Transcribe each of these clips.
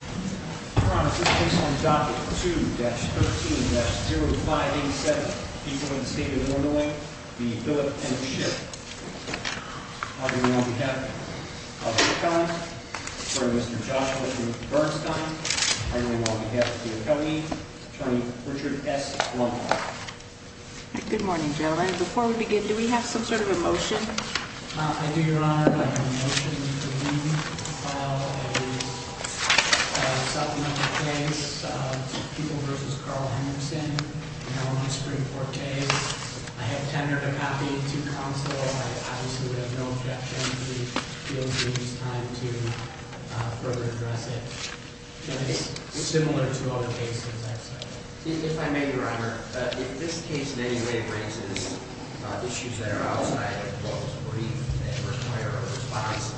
Good morning, gentlemen. Before we begin, do we have some sort of a motion? I do, Your Honor. I have a motion for me to file a supplemental case to People v. Carl Henrickson, known as Supreme Court Case. I have tendered a copy to counsel. I obviously have no objection. If he feels it is time to further address it. It is similar to other cases I've cited. If I may, Your Honor, if this case in any way raises issues that are outside of what was briefed in the first prior response,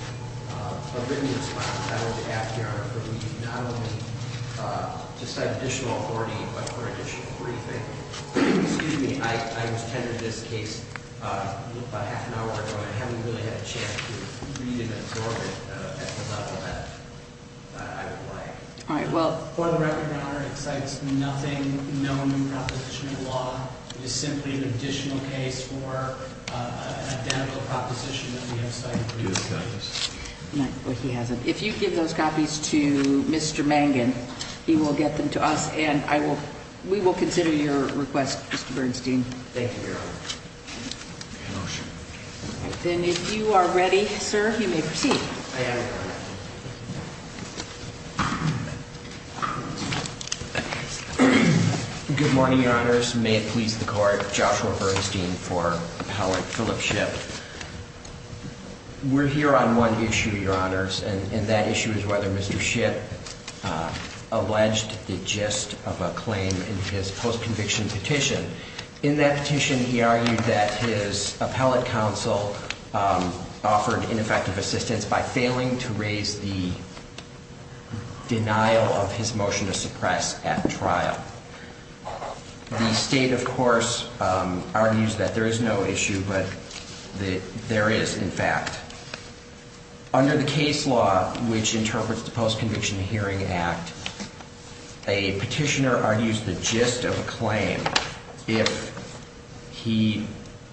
a written response, I would be happy, Your Honor, for me not only to cite additional authority, but for additional briefing. Excuse me, I was tendered this case about half an hour ago, and I haven't really had a chance to read and absorb it at the level that I would like. For the record, Your Honor, it cites nothing known in proposition of law. It is simply an additional case for an identical proposition that we have cited previously. He hasn't. If you give those copies to Mr. Mangan, he will get them to us, and we will consider your request, Mr. Bernstein. Thank you, Your Honor. I have a motion. If you are ready, sir, you may proceed. I am. Good morning, Your Honors. May it please the Court, Joshua Bernstein for Appellate Philip Shipp. We're here on one issue, Your Honors, and that issue is whether Mr. Shipp alleged the gist of a claim in his post-conviction petition. In that petition, he argued that his appellate counsel offered ineffective assistance by failing to raise the denial of his motion to suppress at trial. The state, of course, argues that there is no issue, but there is, in fact. Under the case law, which interprets the Post-Conviction Hearing Act, a petitioner argues the gist of a claim if he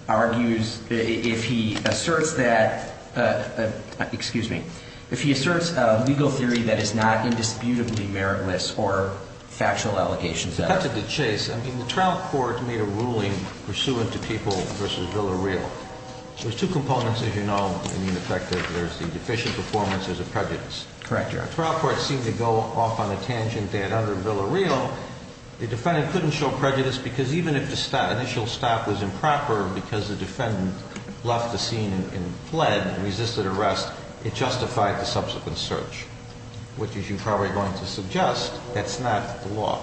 argues, if he asserts that, excuse me, if he asserts a legal theory that is not indisputably meritless or factual allegations of it. Cut to the chase. I mean, the trial court made a ruling pursuant to people versus Villareal. There's two components, as you know, in the effect that there's the deficient performance, there's a prejudice. Correct, Your Honor. The trial court seemed to go off on a tangent that under Villareal, the defendant couldn't show prejudice because even if the initial stop was improper because the defendant left the scene and fled and resisted arrest, it justified the subsequent search, which, as you're probably going to suggest, that's not the law.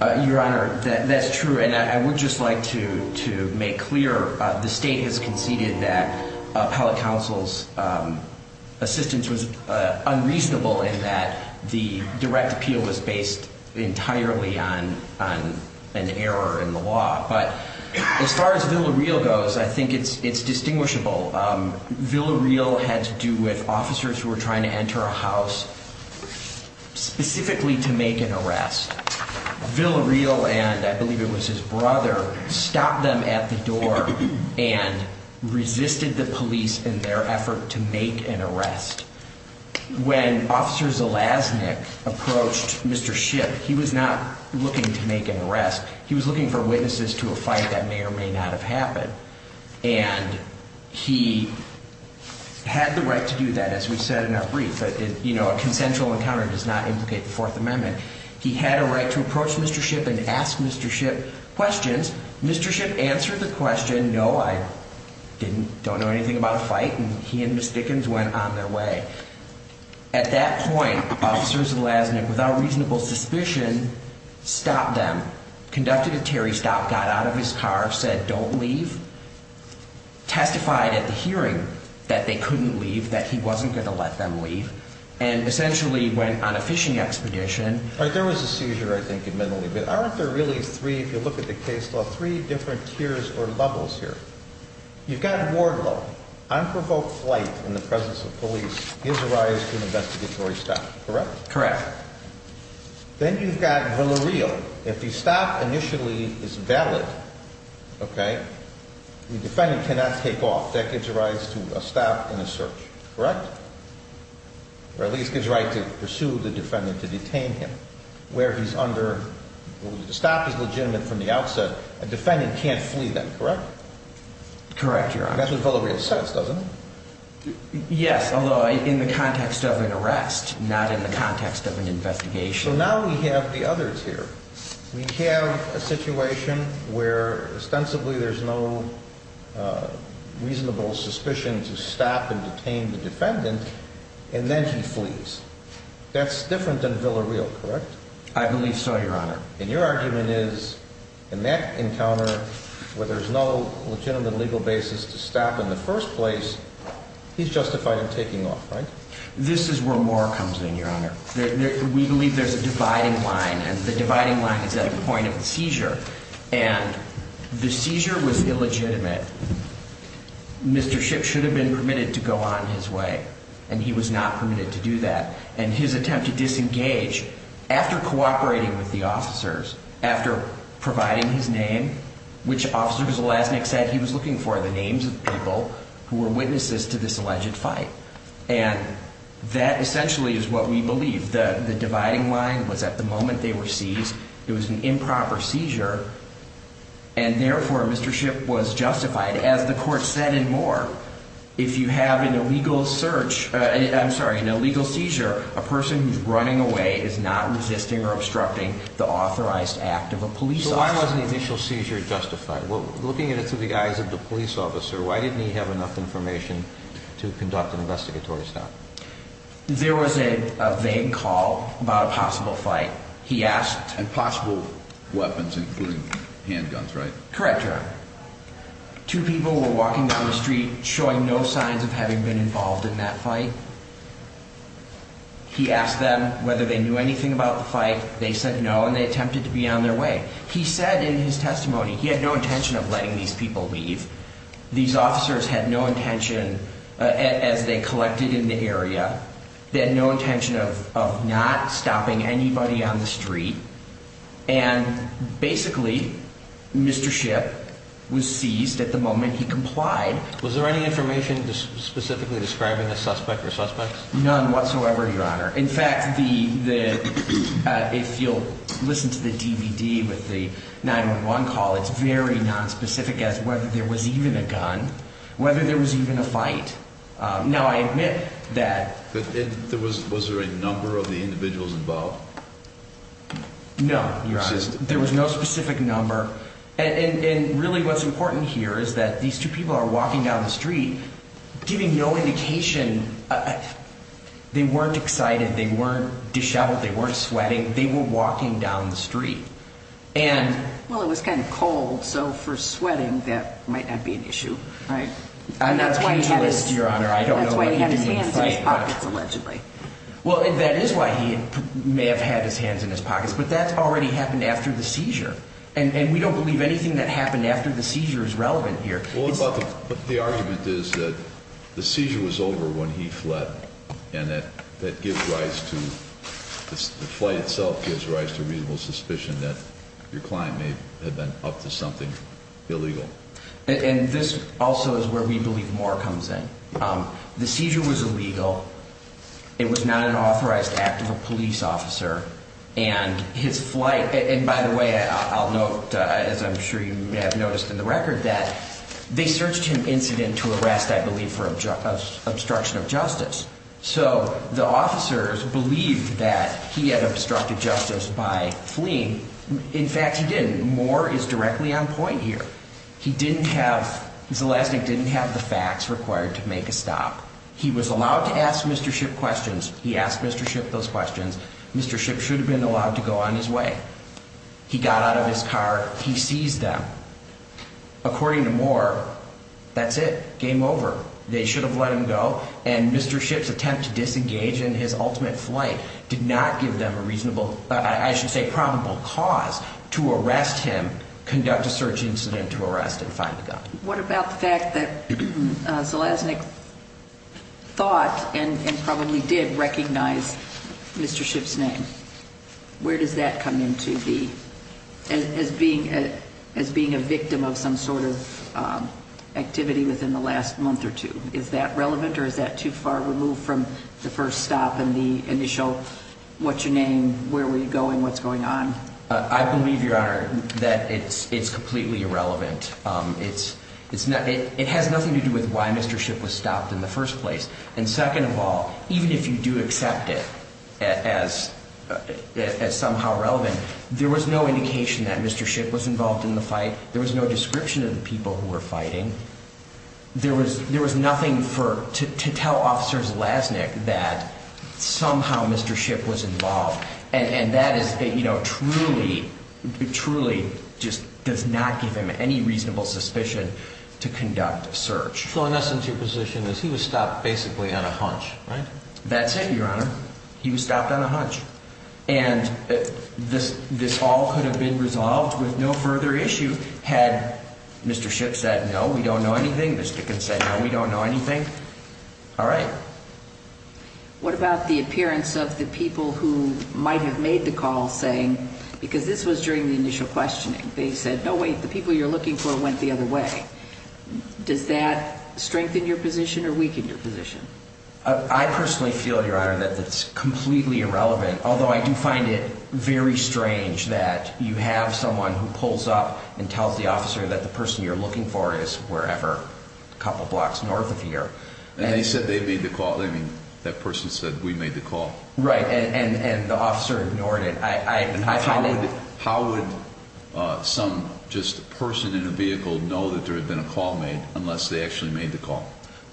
Your Honor, that's true, and I would just like to make clear the state has conceded that appellate counsel's assistance was unreasonable in that the direct appeal was based entirely on an error in the law. But as far as Villareal goes, I think it's distinguishable. Villareal had to do with officers who were trying to enter a house specifically to make an arrest. Villareal and I believe it was his brother stopped them at the door and resisted the police in their effort to make an arrest. When Officer Zelaznik approached Mr. Schiff, he was not looking to make an arrest. He was looking for witnesses to a fight that may or may not have happened. And he had the right to do that. As we said in our brief, a consensual encounter does not implicate the Fourth Amendment. He had a right to approach Mr. Schiff and ask Mr. Schiff questions. Mr. Schiff answered the question, no, I don't know anything about a fight, and he and Ms. Dickens went on their way. At that point, Officers Zelaznik, without reasonable suspicion, stopped them, conducted a Terry stop, got out of his car, said don't leave. Testified at the hearing that they couldn't leave, that he wasn't going to let them leave. And essentially went on a fishing expedition. There was a seizure, I think, admittedly. But aren't there really three, if you look at the case law, three different tiers or levels here? You've got Wardlow, unprovoked flight in the presence of police, his arrival to an investigatory stop. Correct? Correct. Then you've got Villarreal. If the stop initially is valid, okay, the defendant cannot take off. That gives a right to stop in a search, correct? Or at least gives a right to pursue the defendant, to detain him. Where he's under, the stop is legitimate from the outset. A defendant can't flee then, correct? Correct, Your Honor. That's what Villarreal says, doesn't it? Yes, although in the context of an arrest, not in the context of an investigation. So now we have the others here. We have a situation where ostensibly there's no reasonable suspicion to stop and detain the defendant, and then he flees. That's different than Villarreal, correct? I believe so, Your Honor. And your argument is in that encounter where there's no legitimate legal basis to stop in the first place, he's justified in taking off, right? This is where more comes in, Your Honor. We believe there's a dividing line, and the dividing line is at a point of seizure. And the seizure was illegitimate. Mr. Shipp should have been permitted to go on his way, and he was not permitted to do that. And his attempt to disengage, after cooperating with the officers, after providing his name, which officer was the last thing he said he was looking for, the names of people who were witnesses to this alleged fight. And that essentially is what we believe. The dividing line was at the moment they were seized, it was an improper seizure, and therefore Mr. Shipp was justified. As the court said and more, if you have an illegal search – I'm sorry, an illegal seizure, a person who's running away is not resisting or obstructing the authorized act of a police officer. So why wasn't the initial seizure justified? Looking at it through the eyes of the police officer, why didn't he have enough information to conduct an investigatory stop? There was a vague call about a possible fight. He asked – And possible weapons, including handguns, right? Correct, Your Honor. Two people were walking down the street, showing no signs of having been involved in that fight. He asked them whether they knew anything about the fight. They said no, and they attempted to be on their way. He said in his testimony he had no intention of letting these people leave. These officers had no intention, as they collected in the area, they had no intention of not stopping anybody on the street. And basically, Mr. Shipp was seized at the moment he complied. Was there any information specifically describing the suspect or suspects? None whatsoever, Your Honor. In fact, if you'll listen to the DVD with the 911 call, it's very nonspecific as whether there was even a gun, whether there was even a fight. Now, I admit that – Was there a number of the individuals involved? No, Your Honor. There was no specific number. And really, what's important here is that these two people are walking down the street, giving no indication. They weren't excited. They weren't disheveled. They weren't sweating. They were walking down the street. And – Well, it was kind of cold, so for sweating, that might not be an issue, right? On that QG list, Your Honor, I don't know what he meant by – That's why he had his hands in his pockets, allegedly. Well, that is why he may have had his hands in his pockets, but that's already happened after the seizure. And we don't believe anything that happened after the seizure is relevant here. Well, the argument is that the seizure was over when he fled, and that gives rise to – the flight itself gives rise to reasonable suspicion that your client may have been up to something illegal. And this also is where we believe more comes in. The seizure was illegal. It was not an authorized act of a police officer. And his flight – and by the way, I'll note, as I'm sure you may have noticed in the record, that they searched him incident to arrest, I believe, for obstruction of justice. So the officers believed that he had obstructed justice by fleeing. In fact, he didn't. More is directly on point here. He didn't have – Zelastnik didn't have the facts required to make a stop. He was allowed to ask Mr. Shipp questions. He asked Mr. Shipp those questions. Mr. Shipp should have been allowed to go on his way. He got out of his car. He seized them. According to Moore, that's it. Game over. They should have let him go. And Mr. Shipp's attempt to disengage in his ultimate flight did not give them a reasonable – What about the fact that Zelastnik thought and probably did recognize Mr. Shipp's name? Where does that come into the – as being a victim of some sort of activity within the last month or two? Is that relevant or is that too far removed from the first stop and the initial what's your name, where were you going, what's going on? I believe, Your Honor, that it's completely irrelevant. It has nothing to do with why Mr. Shipp was stopped in the first place. And second of all, even if you do accept it as somehow relevant, there was no indication that Mr. Shipp was involved in the fight. There was no description of the people who were fighting. There was nothing to tell Officers Zelastnik that somehow Mr. Shipp was involved. And that is, you know, truly, truly just does not give him any reasonable suspicion to conduct a search. So in essence, your position is he was stopped basically on a hunch, right? That's it, Your Honor. He was stopped on a hunch. And this all could have been resolved with no further issue had Mr. Shipp said, no, we don't know anything. Mr. Dickens said, no, we don't know anything. All right. What about the appearance of the people who might have made the call saying, because this was during the initial questioning, they said, no, wait, the people you're looking for went the other way. Does that strengthen your position or weaken your position? I personally feel, Your Honor, that it's completely irrelevant, although I do find it very strange that you have someone who pulls up and tells the officer that the person you're looking for is wherever, a couple blocks north of here. And they said they made the call. I mean, that person said, we made the call. Right. And the officer ignored it. How would some just person in a vehicle know that there had been a call made unless they actually made the call?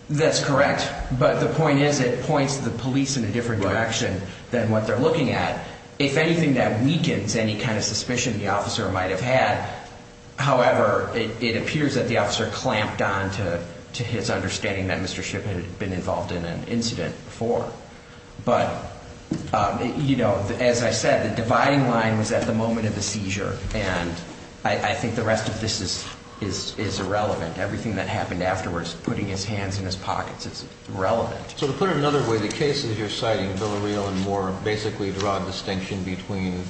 That's correct. But the point is it points the police in a different direction than what they're looking at. If anything, that weakens any kind of suspicion the officer might have had. However, it appears that the officer clamped on to his understanding that Mr. Shipp had been involved in an incident before. But, you know, as I said, the dividing line was at the moment of the seizure, and I think the rest of this is irrelevant. Everything that happened afterwards, putting his hands in his pockets, it's irrelevant. So to put it another way, the cases you're citing, Villareal and Moore, basically draw a distinction between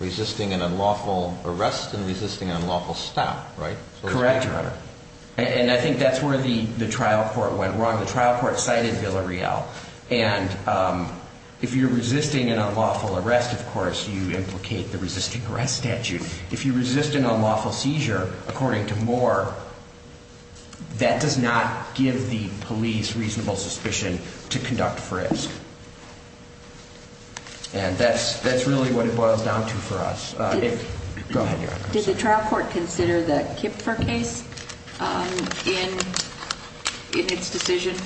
resisting an unlawful arrest and resisting an unlawful stop, right? Correct, Your Honor. And I think that's where the trial court went wrong. The trial court cited Villareal. And if you're resisting an unlawful arrest, of course, you implicate the resisting arrest statute. If you resist an unlawful seizure, according to Moore, that does not give the police reasonable suspicion to conduct frisk. And that's really what it boils down to for us. Go ahead, Your Honor. Did the trial court consider the Kipfer case in its decision?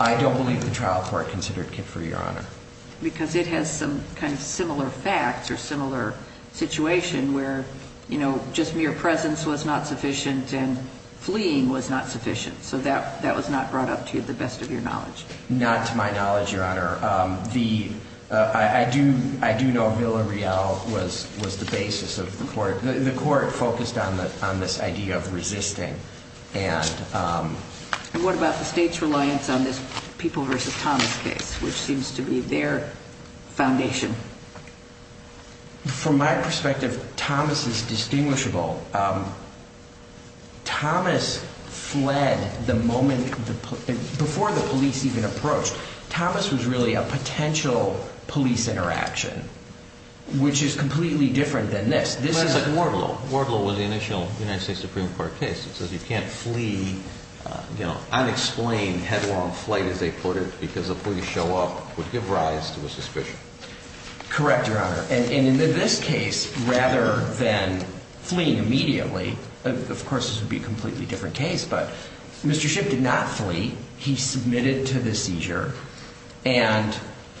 I don't believe the trial court considered Kipfer, Your Honor. Because it has some kind of similar facts or similar situation where, you know, just mere presence was not sufficient and fleeing was not sufficient. So that was not brought up to the best of your knowledge. Not to my knowledge, Your Honor. I do know Villareal was the basis of the court. The court focused on this idea of resisting. And what about the state's reliance on this People v. Thomas case, which seems to be their foundation? From my perspective, Thomas is distinguishable. Thomas fled the moment before the police even approached. Thomas was really a potential police interaction, which is completely different than this. This is a war blow. War blow was the initial United States Supreme Court case. It says you can't flee, you know, unexplained headlong flight, as they put it, because a police show up would give rise to a suspicion. Correct, Your Honor. And in this case, rather than fleeing immediately, of course this would be a completely different case, but Mr. Shipp did not flee. He submitted to the seizure and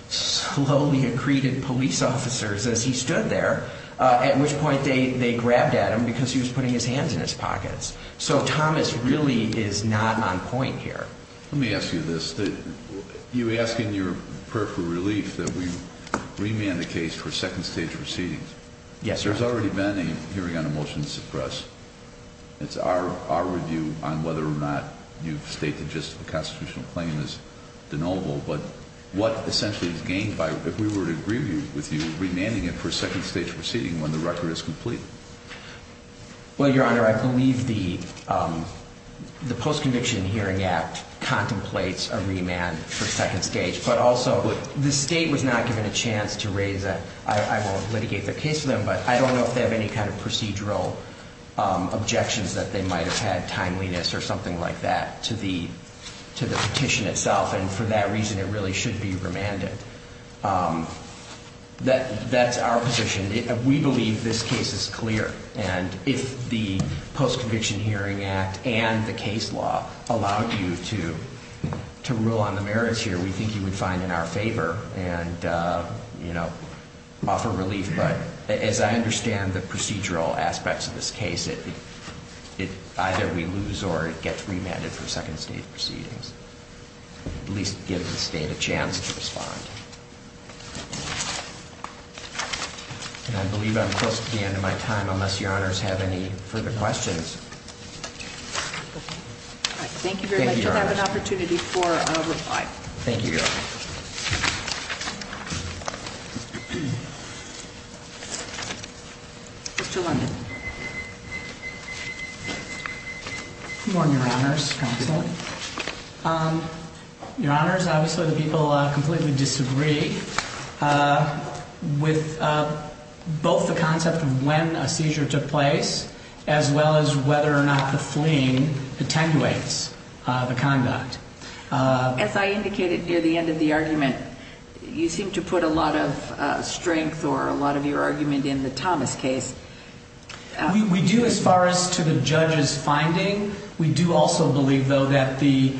slowly accreted police officers as he stood there, at which point they grabbed at him because he was putting his hands in his pockets. So Thomas really is not on point here. Let me ask you this. You ask in your prayer for relief that we remand the case for second stage proceedings. Yes, Your Honor. There's already been a hearing on a motion to suppress. It's our review on whether or not you've stated just the constitutional claim is deniable, but what essentially is gained by, if we were to agree with you, remanding it for a second stage proceeding when the record is complete? Well, Your Honor, I believe the Post-Conviction Hearing Act contemplates a remand for second stage, but also the state was not given a chance to raise a, I won't litigate the case for them, but I don't know if they have any kind of procedural objections that they might have had, timeliness or something like that, to the petition itself. And for that reason, it really should be remanded. That's our position. We believe this case is clear. And if the Post-Conviction Hearing Act and the case law allowed you to rule on the merits here, we think you would find in our favor and, you know, offer relief. But as I understand the procedural aspects of this case, it either we lose or it gets remanded for second stage proceedings, at least give the state a chance to respond. And I believe I'm close to the end of my time, unless Your Honors have any further questions. Thank you very much. I have an opportunity for a reply. Thank you, Your Honor. Mr. London. Good morning, Your Honors. Counsel. Your Honors, obviously the people completely disagree with both the concept of when a seizure took place as well as whether or not the fleeing attenuates the conduct. As I indicated near the end of the argument, you seem to put a lot of strength or a lot of your argument in the Thomas case. We do as far as to the judge's finding. We do also believe, though, that the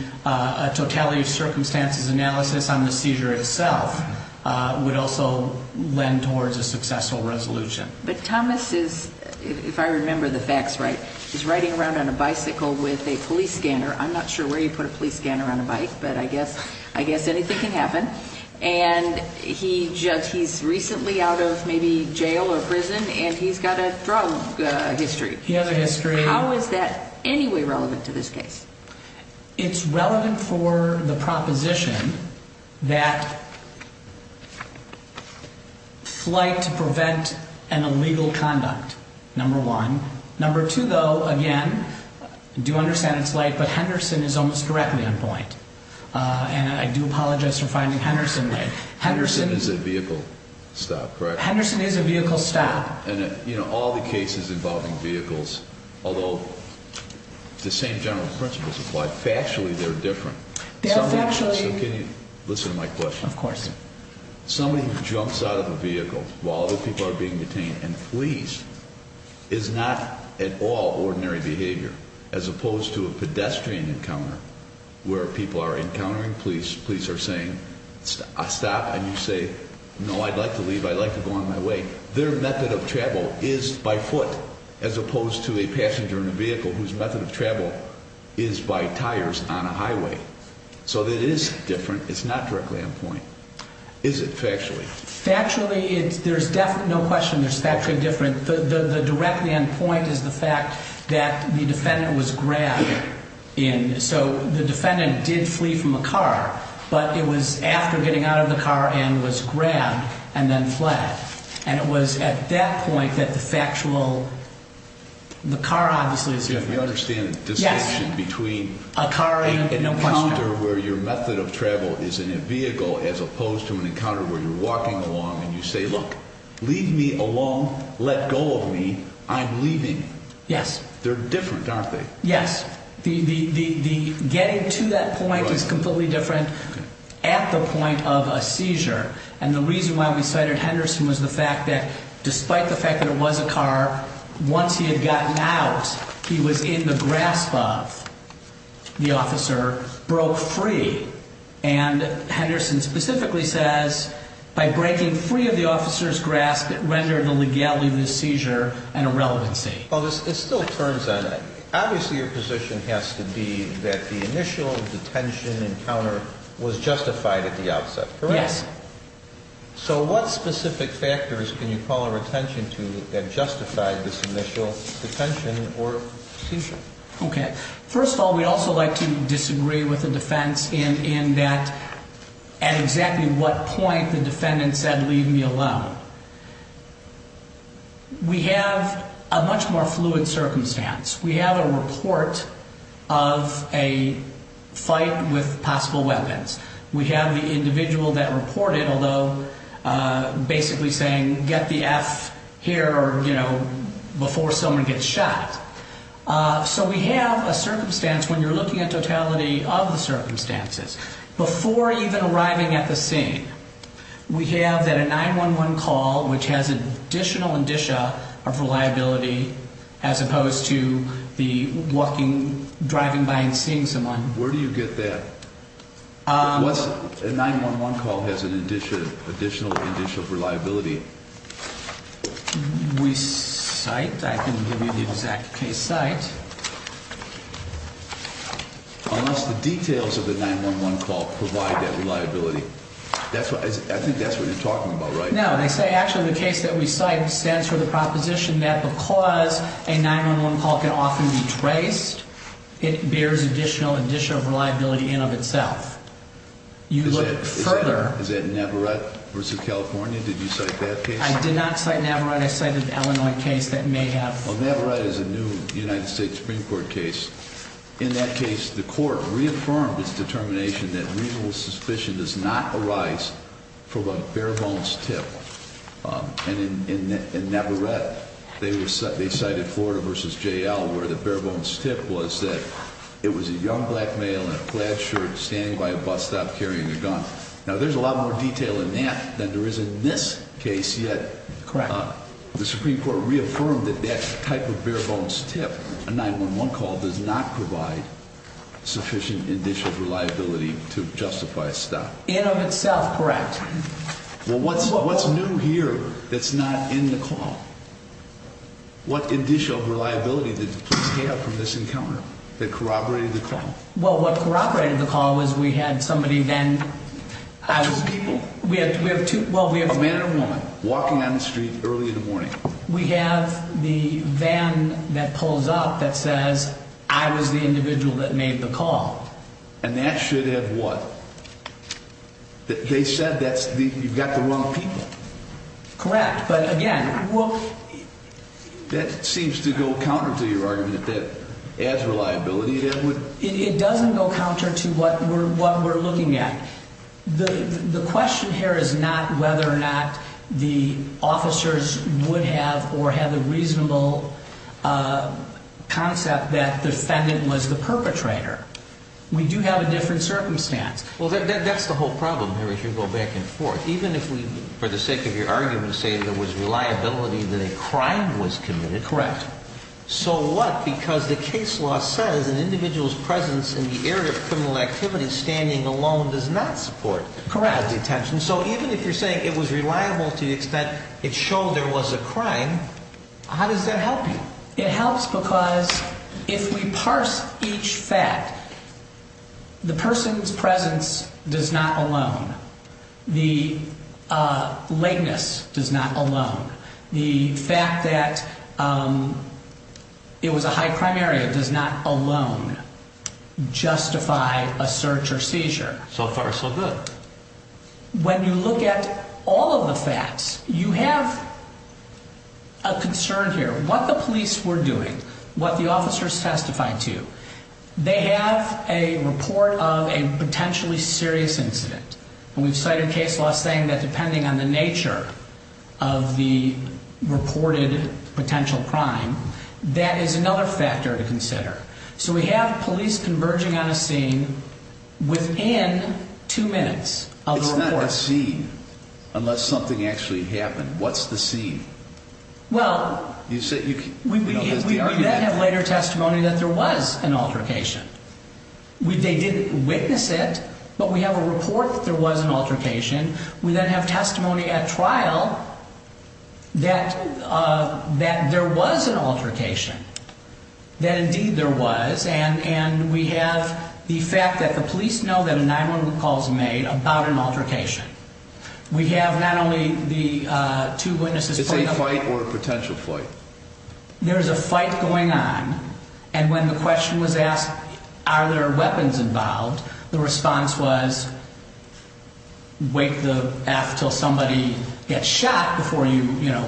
totality of circumstances analysis on the seizure itself would also lend towards a successful resolution. But Thomas is, if I remember the facts right, is riding around on a bicycle with a police scanner. I'm not sure where you put a police scanner on a bike, but I guess anything can happen. And he's recently out of maybe jail or prison, and he's got a drug history. He has a history. How is that any way relevant to this case? It's relevant for the proposition that flight to prevent an illegal conduct, number one. Number two, though, again, I do understand it's light, but Henderson is almost directly on point. And I do apologize for finding Henderson. Henderson is a vehicle stop, correct? Henderson is a vehicle stop. And, you know, all the cases involving vehicles, although the same general principles apply, factually they're different. They're factually. So can you listen to my question? Of course. Somebody jumps out of a vehicle while other people are being detained and flees is not at all ordinary behavior. As opposed to a pedestrian encounter where people are encountering police, police are saying stop, and you say, no, I'd like to leave, I'd like to go on my way. Their method of travel is by foot as opposed to a passenger in a vehicle whose method of travel is by tires on a highway. So it is different. It's not directly on point. Is it factually? Factually, there's no question it's factually different. The directly on point is the fact that the defendant was grabbed. So the defendant did flee from a car, but it was after getting out of the car and was grabbed and then fled. And it was at that point that the factual, the car obviously is different. We understand the distinction between a car encounter where your method of travel is in a vehicle as opposed to an encounter where you're walking along and you say, look, leave me alone, let go of me, I'm leaving. Yes. They're different, aren't they? Yes. The getting to that point is completely different at the point of a seizure. And the reason why we cited Henderson was the fact that despite the fact that it was a car, once he had gotten out, he was in the grasp of the officer, broke free. And Henderson specifically says, by breaking free of the officer's grasp, it rendered the legality of the seizure an irrelevancy. Well, it still turns on that. Obviously, your position has to be that the initial detention encounter was justified at the outset, correct? Yes. So what specific factors can you call our attention to that justified this initial detention or seizure? Okay. First of all, we'd also like to disagree with the defense in that at exactly what point the defendant said, leave me alone. We have a much more fluid circumstance. We have a report of a fight with possible weapons. We have the individual that reported, although basically saying, get the F here before someone gets shot. So we have a circumstance when you're looking at totality of the circumstances. Before even arriving at the scene, we have that a 911 call, which has additional indicia of reliability as opposed to the walking, driving by and seeing someone. Where do you get that? A 911 call has an additional indicia of reliability. We cite. I can give you the exact case site. Unless the details of the 911 call provide that reliability. I think that's what you're talking about, right? No. I say actually the case that we cite stands for the proposition that because a 911 call can often be traced, it bears additional indicia of reliability in of itself. You look further. Is that Navarrete versus California? Did you cite that case? I did not cite Navarrete. I cited an Illinois case that may have. Well, Navarrete is a new United States Supreme Court case. In that case, the court reaffirmed its determination that reasonable suspicion does not arise from a bare bones tip. And in Navarrete, they cited Florida versus JL where the bare bones tip was that it was a young black male in a plaid shirt standing by a bus stop carrying a gun. Now, there's a lot more detail in that than there is in this case yet. Correct. The Supreme Court reaffirmed that that type of bare bones tip, a 911 call, does not provide sufficient indicia of reliability to justify a stop. In of itself. Correct. Well, what's new here that's not in the call? What indicia of reliability did the police have from this encounter that corroborated the call? Well, what corroborated the call was we had somebody then. Two people. Well, we have a man and a woman walking down the street early in the morning. We have the van that pulls up that says, I was the individual that made the call. And that should have what? They said you've got the wrong people. Correct. But again, well. That seems to go counter to your argument that adds reliability. It doesn't go counter to what we're looking at. The question here is not whether or not the officers would have or had the reasonable concept that the defendant was the perpetrator. We do have a different circumstance. Well, that's the whole problem here as you go back and forth. Even if we, for the sake of your argument, say there was reliability that a crime was committed. Correct. So what? Because the case law says an individual's presence in the area of criminal activity standing alone does not support. Correct. So even if you're saying it was reliable to the extent it showed there was a crime, how does that help you? It helps because if we parse each fact, the person's presence does not alone. The lateness does not alone. The fact that it was a high crime area does not alone justify a search or seizure. So far, so good. When you look at all of the facts, you have a concern here. What the police were doing, what the officers testified to, they have a report of a potentially serious incident. And we've cited case law saying that depending on the nature of the reported potential crime, that is another factor to consider. So we have police converging on a scene within two minutes of the report. It's not a scene unless something actually happened. What's the scene? Well, we then have later testimony that there was an altercation. They didn't witness it, but we have a report that there was an altercation. We then have testimony at trial that there was an altercation, that indeed there was. And we have the fact that the police know that a 911 call was made about an altercation. We have not only the two witnesses. Is it a fight or a potential fight? There is a fight going on. And when the question was asked, are there weapons involved, the response was, wait the F till somebody gets shot before you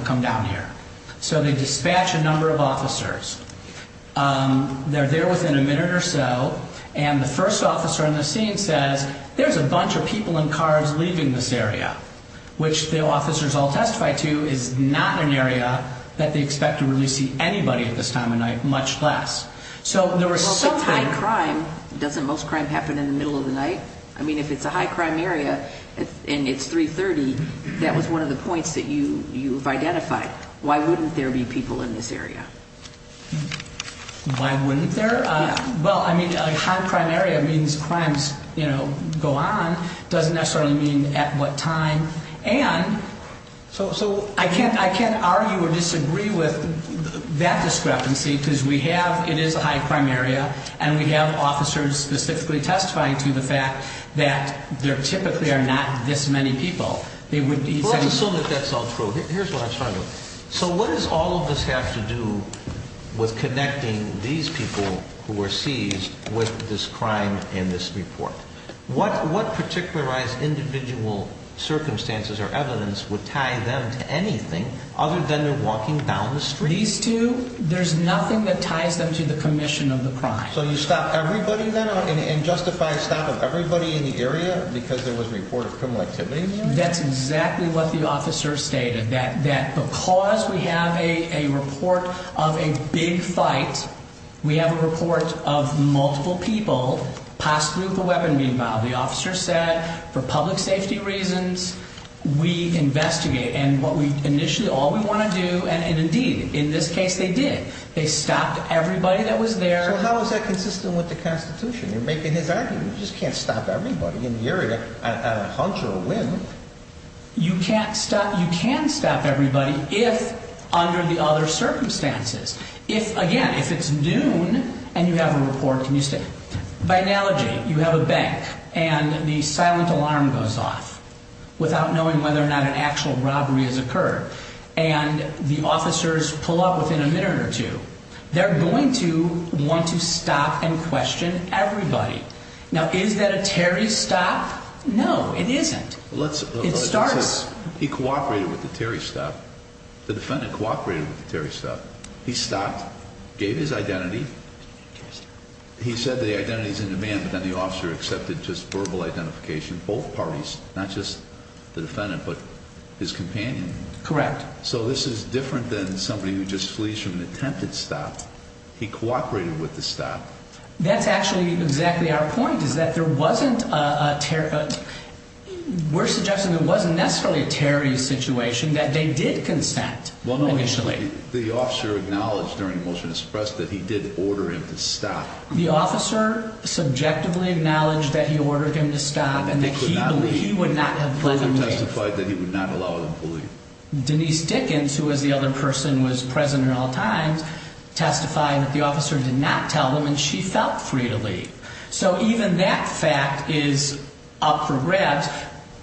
come down here. So they dispatch a number of officers. They're there within a minute or so, and the first officer in the scene says, there's a bunch of people in cars leaving this area, which the officers all testify to is not an area that they expect to really see anybody at this time of night, much less. So there were some high crime. Doesn't most crime happen in the middle of the night? I mean, if it's a high crime area and it's 330, that was one of the points that you you've identified. Why wouldn't there be people in this area? Why wouldn't there? Well, I mean, a high crime area means crimes, you know, go on. Doesn't necessarily mean at what time. And so I can't I can't argue or disagree with that discrepancy because we have it is a high crime area and we have officers specifically testifying to the fact that there typically are not this many people. They would be so that that's all true. Here's what I'm trying to. So what does all of this have to do with connecting these people who were seized with this crime in this report? What what particularized individual circumstances or evidence would tie them to anything other than they're walking down the street? These two. There's nothing that ties them to the commission of the crime. So you stop everybody and justify stop of everybody in the area because there was a report of criminal activity. That's exactly what the officer stated, that that because we have a report of a big fight, we have a report of multiple people possibly with a weapon being filed. The officer said for public safety reasons, we investigate and what we initially all we want to do. And indeed, in this case, they did. They stopped everybody that was there. How is that consistent with the Constitution? You're making his argument. You just can't stop everybody in the area at a hunch or a whim. You can't stop. You can stop everybody if under the other circumstances, if again, if it's noon and you have a report. Can you say by analogy, you have a bank and the silent alarm goes off without knowing whether or not an actual robbery has occurred. And the officers pull up within a minute or two. They're going to want to stop and question everybody. Now, is that a Terry stop? No, it isn't. It starts. He cooperated with the Terry stop. The defendant cooperated with the Terry stop. He stopped, gave his identity. He said the identity is in demand, but then the officer accepted just verbal identification. Both parties, not just the defendant, but his companion. Correct. So this is different than somebody who just flees from an attempted stop. He cooperated with the stop. That's actually exactly our point, is that there wasn't a Terry. We're suggesting it wasn't necessarily a Terry situation, that they did consent initially. Well, no. The officer acknowledged during a motion to suppress that he did order him to stop. The officer subjectively acknowledged that he ordered him to stop and that he would not have let him leave. He testified that he would not allow him to leave. Denise Dickens, who was the other person who was present at all times, testified that the officer did not tell him. She felt free to leave. So even that fact is up for grabs.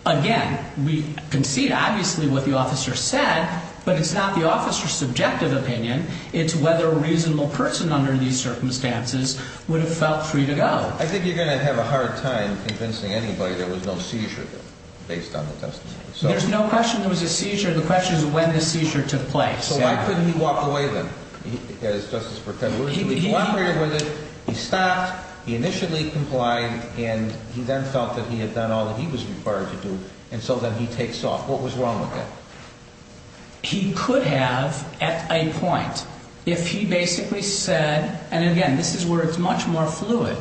Again, we concede obviously what the officer said, but it's not the officer's subjective opinion. It's whether a reasonable person under these circumstances would have felt free to go. I think you're going to have a hard time convincing anybody there was no seizure based on the testimony. There's no question there was a seizure. The question is when the seizure took place. So why couldn't he walk away then? He cooperated with it, he stopped, he initially complied, and he then felt that he had done all that he was required to do, and so then he takes off. What was wrong with that? He could have at a point, if he basically said, and again, this is where it's much more fluid,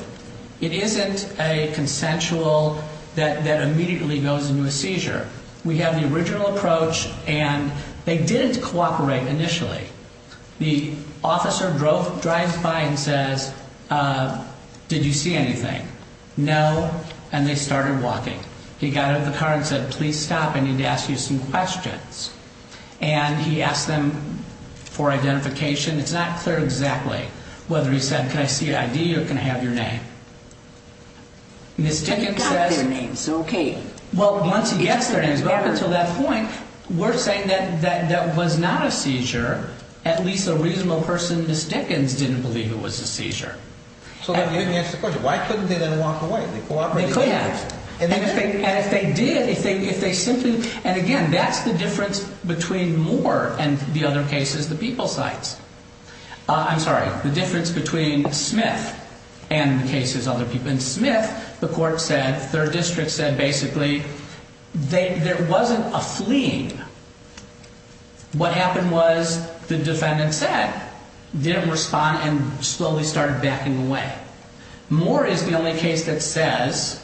it isn't a consensual that immediately goes into a seizure. We have the original approach, and they didn't cooperate initially. The officer drives by and says, did you see anything? No, and they started walking. He got out of the car and said, please stop, I need to ask you some questions. And he asked them for identification. It's not clear exactly whether he said, can I see your ID or can I have your name? Ms. Dickens says, well, once he gets their names, but up until that point, we're saying that that was not a seizure. At least a reasonable person, Ms. Dickens, didn't believe it was a seizure. So then you didn't answer the question. Why couldn't they then walk away? They cooperated with it. They could have. And if they did, if they simply, and again, that's the difference between Moore and the other cases the people cites. I'm sorry, the difference between Smith and the cases other people. In Smith, the court said, third district said, basically, there wasn't a fleeing. What happened was the defendant said, didn't respond, and slowly started backing away. Moore is the only case that says,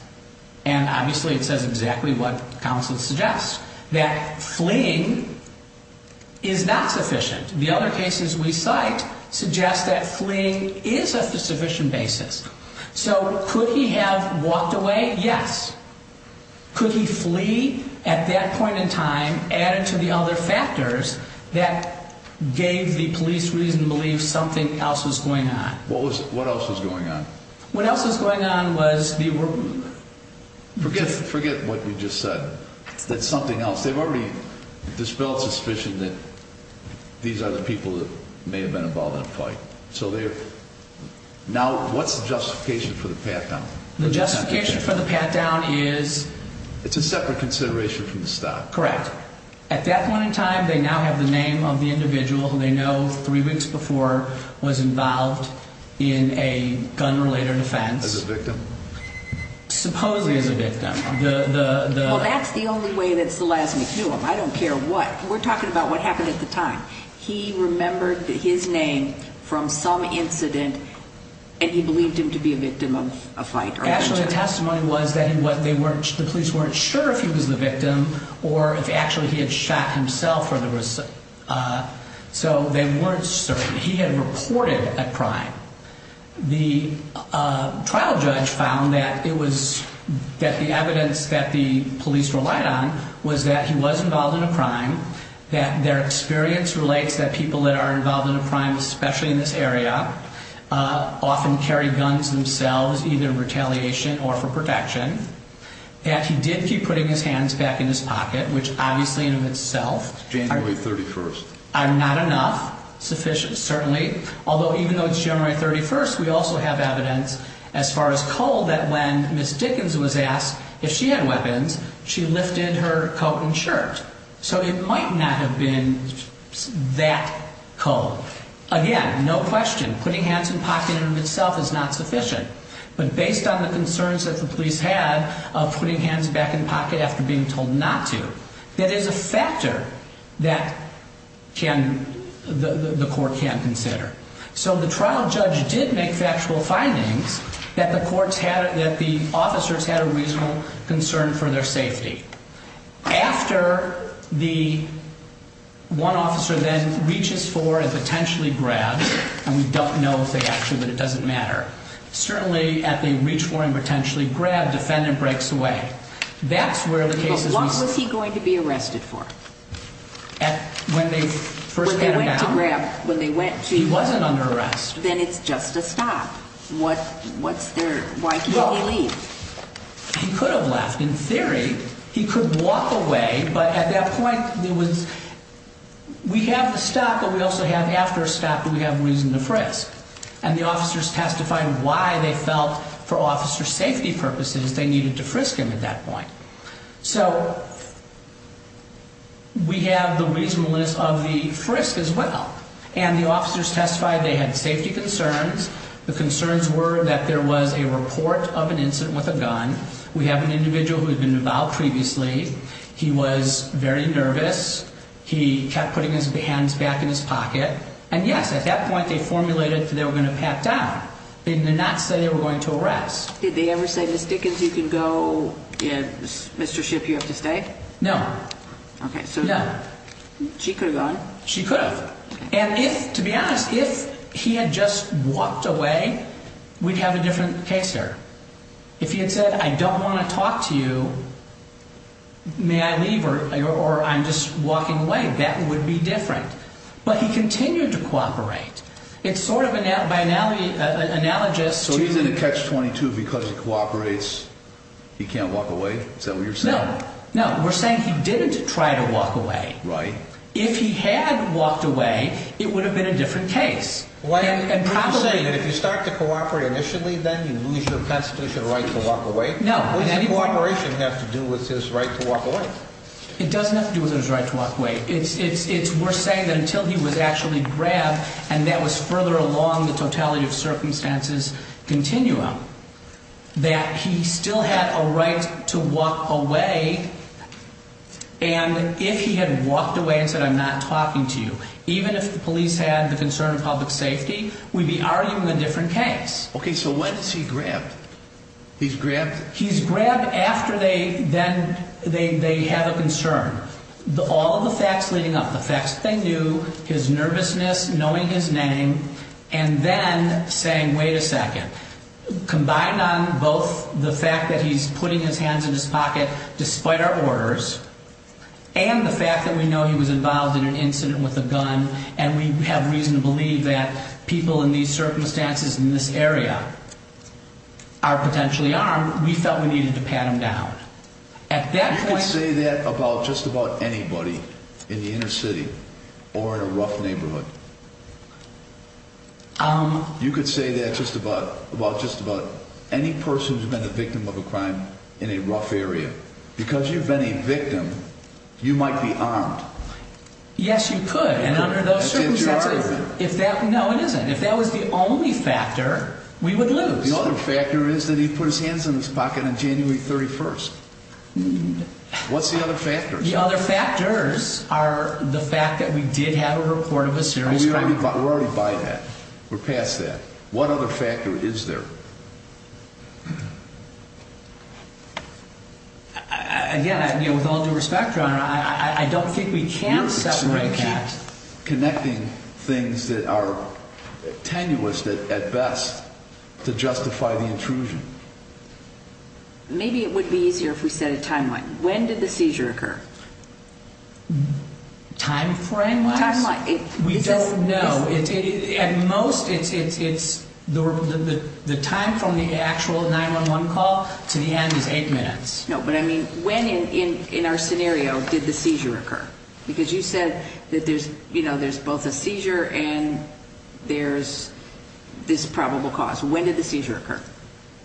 and obviously it says exactly what counsel suggests, that fleeing is not sufficient. The other cases we cite suggest that fleeing is a sufficient basis. So could he have walked away? Yes. Could he flee at that point in time, added to the other factors that gave the police reason to believe something else was going on? What else was going on? What else was going on was the... Forget what you just said. That's something else. They've already dispelled suspicion that these are the people that may have been involved in a fight. So they're... Now, what's the justification for the pat-down? The justification for the pat-down is... It's a separate consideration from the stop. Correct. At that point in time, they now have the name of the individual who they know three weeks before was involved in a gun-related offense. As a victim? Supposedly as a victim. Well, that's the only way that's the last we knew him. I don't care what. We're talking about what happened at the time. He remembered his name from some incident, and he believed him to be a victim of a fight. Actually, the testimony was that the police weren't sure if he was the victim or if actually he had shot himself. So they weren't certain. He had reported a crime. The trial judge found that the evidence that the police relied on was that he was involved in a crime, that their experience relates that people that are involved in a crime, especially in this area, often carry guns themselves either in retaliation or for protection, that he did keep putting his hands back in his pocket, which obviously in and of itself... January 31st. ...are not enough, sufficient, certainly, although even though it's January 31st, we also have evidence as far as coal that when Ms. Dickens was asked if she had weapons, she lifted her coat and shirt. So it might not have been that coal. Again, no question, putting hands in pocket in and of itself is not sufficient. But based on the concerns that the police had of putting hands back in the pocket after being told not to, that is a factor that the court can consider. So the trial judge did make factual findings that the officers had a reasonable concern for their safety. After the one officer then reaches for and potentially grabs, and we don't know if they actually, but it doesn't matter, certainly at the reach for and potentially grab, defendant breaks away. But what was he going to be arrested for? When they first had him down? When they went to grab, when they went to... He wasn't under arrest. Then it's just a stop. What's their, why can't he leave? He could have left. In theory, he could walk away, but at that point there was, we have the stop, but we also have after stop, but we have reason to frisk. And the officers testified why they felt for officer safety purposes they needed to frisk him at that point. So we have the reasonableness of the frisk as well. And the officers testified they had safety concerns. The concerns were that there was a report of an incident with a gun. We have an individual who had been involved previously. He was very nervous. He kept putting his hands back in his pocket. And yes, at that point they formulated that they were going to pat down. They did not say they were going to arrest. Did they ever say, Ms. Dickens, you can go, and Mr. Shipp, you have to stay? No. Okay, so she could have gone. She could have. And if, to be honest, if he had just walked away, we'd have a different case here. If he had said, I don't want to talk to you, may I leave, or I'm just walking away, that would be different. But he continued to cooperate. It's sort of by analogy, analogous to. So he's in a catch-22 because he cooperates? He can't walk away? Is that what you're saying? No. No, we're saying he didn't try to walk away. Right. If he had walked away, it would have been a different case. Why are you saying that if you start to cooperate initially, then you lose your constitutional right to walk away? No. What does the cooperation have to do with his right to walk away? It doesn't have to do with his right to walk away. It's worth saying that until he was actually grabbed, and that was further along the totality of circumstances continuum, that he still had a right to walk away, and if he had walked away and said, I'm not talking to you, even if the police had the concern of public safety, we'd be arguing a different case. Okay, so when is he grabbed? He's grabbed? He's grabbed after they have a concern. All of the facts leading up, the facts that they knew, his nervousness, knowing his name, and then saying, wait a second, combined on both the fact that he's putting his hands in his pocket, despite our orders, and the fact that we know he was involved in an incident with a gun, and we have reason to believe that people in these circumstances in this area are potentially armed, we felt we needed to pat him down. You could say that about just about anybody in the inner city or in a rough neighborhood. You could say that just about any person who's been a victim of a crime in a rough area. Because you've been a victim, you might be armed. Yes, you could, and under those circumstances, if that was the only factor, we would lose. The other factor is that he put his hands in his pocket on January 31st. What's the other factor? The other factors are the fact that we did have a report of a serious crime. We're already by that. We're past that. What other factor is there? Again, with all due respect, Your Honor, I don't think we can separate that. We're connecting things that are tenuous at best to justify the intrusion. Maybe it would be easier if we set a timeline. When did the seizure occur? Time frame-wise? We don't know. At most, the time from the actual 911 call to the end is eight minutes. No, but I mean, when in our scenario did the seizure occur? Because you said that there's both a seizure and there's this probable cause. When did the seizure occur?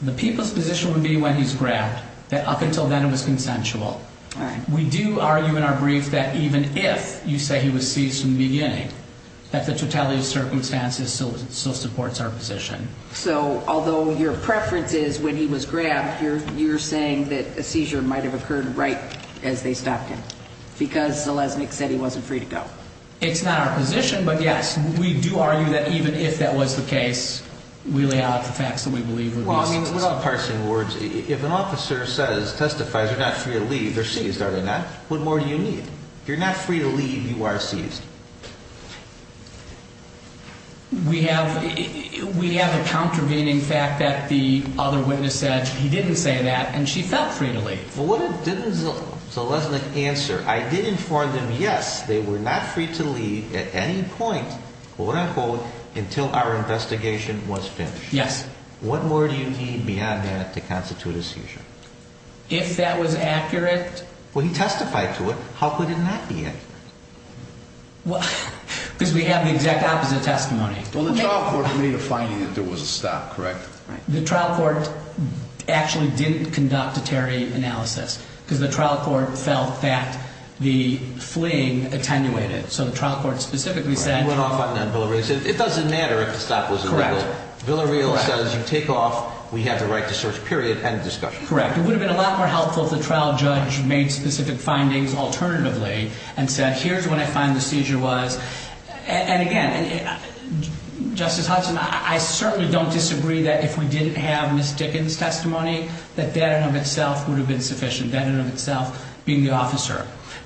The people's position would be when he's grabbed, that up until then it was consensual. All right. We do argue in our brief that even if you say he was seized from the beginning, that the totality of circumstances still supports our position. So, although your preference is when he was grabbed, you're saying that a seizure might have occurred right as they stopped him? Because Zeleznyk said he wasn't free to go. It's not our position, but, yes, we do argue that even if that was the case, we lay out the facts that we believe would be sufficient. Well, I mean, without parsing words, if an officer says, testifies, you're not free to leave, you're seized, are you not? What more do you need? You're not free to leave, you are seized. We have a contravening fact that the other witness said he didn't say that, and she felt free to leave. Well, what did Zeleznyk answer? I did inform them, yes, they were not free to leave at any point, quote-unquote, until our investigation was finished. Yes. What more do you need beyond that to constitute a seizure? If that was accurate. Well, he testified to it. How could it not be accurate? Because we have the exact opposite testimony. Well, the trial court made a finding that there was a stop, correct? The trial court actually didn't conduct a Terry analysis because the trial court felt that the fleeing attenuated. So the trial court specifically said. It doesn't matter if the stop was illegal. Correct. Villareal says you take off, we have the right to search, period, end of discussion. Correct. It would have been a lot more helpful if the trial judge made specific findings alternatively and said, here's what I find the seizure was. And again, Justice Hudson, I certainly don't disagree that if we didn't have Ms. Dickens' testimony, that that in and of itself would have been sufficient, that in and of itself being the officer.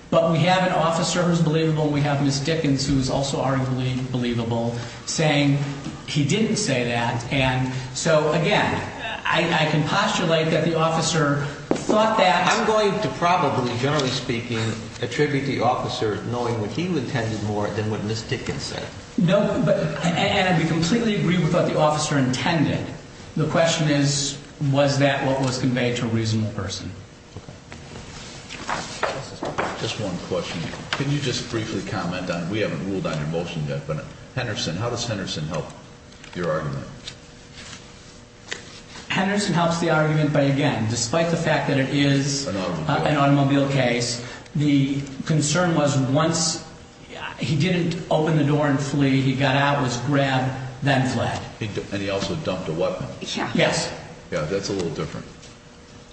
But we have an officer who's believable and we have Ms. Dickens who's also arguably believable saying he didn't say that. And so, again, I can postulate that the officer thought that. I'm going to probably, generally speaking, attribute the officer knowing what he intended more than what Ms. Dickens said. No, but, and we completely agree with what the officer intended. The question is, was that what was conveyed to a reasonable person? Just one question. Can you just briefly comment on, we haven't ruled on your motion yet, but Henderson, how does Henderson help your argument? Henderson helps the argument by, again, despite the fact that it is an automobile case, the concern was once he didn't open the door and flee, he got out, was grabbed, then fled. And he also dumped a weapon. Yes. Yeah, that's a little different.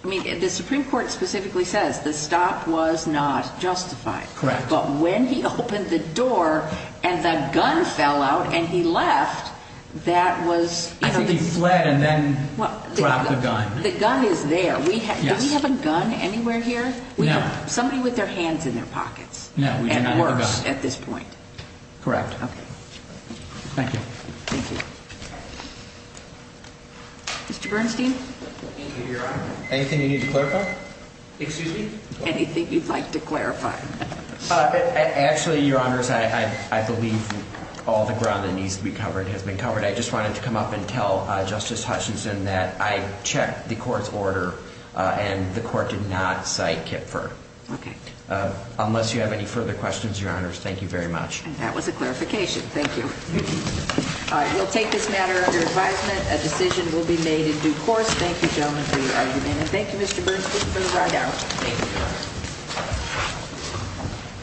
I mean, the Supreme Court specifically says the stop was not justified. Correct. But when he opened the door and the gun fell out and he left, that was... I think he fled and then dropped the gun. The gun is there. Yes. Do we have a gun anywhere here? No. We have somebody with their hands in their pockets. No, we do not have a gun. And worse at this point. Correct. Okay. Thank you. Thank you. Mr. Bernstein? Anything, Your Honor? Anything you need to clarify? Excuse me? Anything you'd like to clarify. Actually, Your Honors, I believe all the ground that needs to be covered has been covered. I just wanted to come up and tell Justice Hutchinson that I checked the court's order and the court did not cite Kipfer. Okay. Unless you have any further questions, Your Honors, thank you very much. That was a clarification. Thank you. We'll take this matter under advisement. A decision will be made in due course. Thank you, gentlemen, for your argument. And thank you, Mr. Bernstein, for the ride out. Thank you.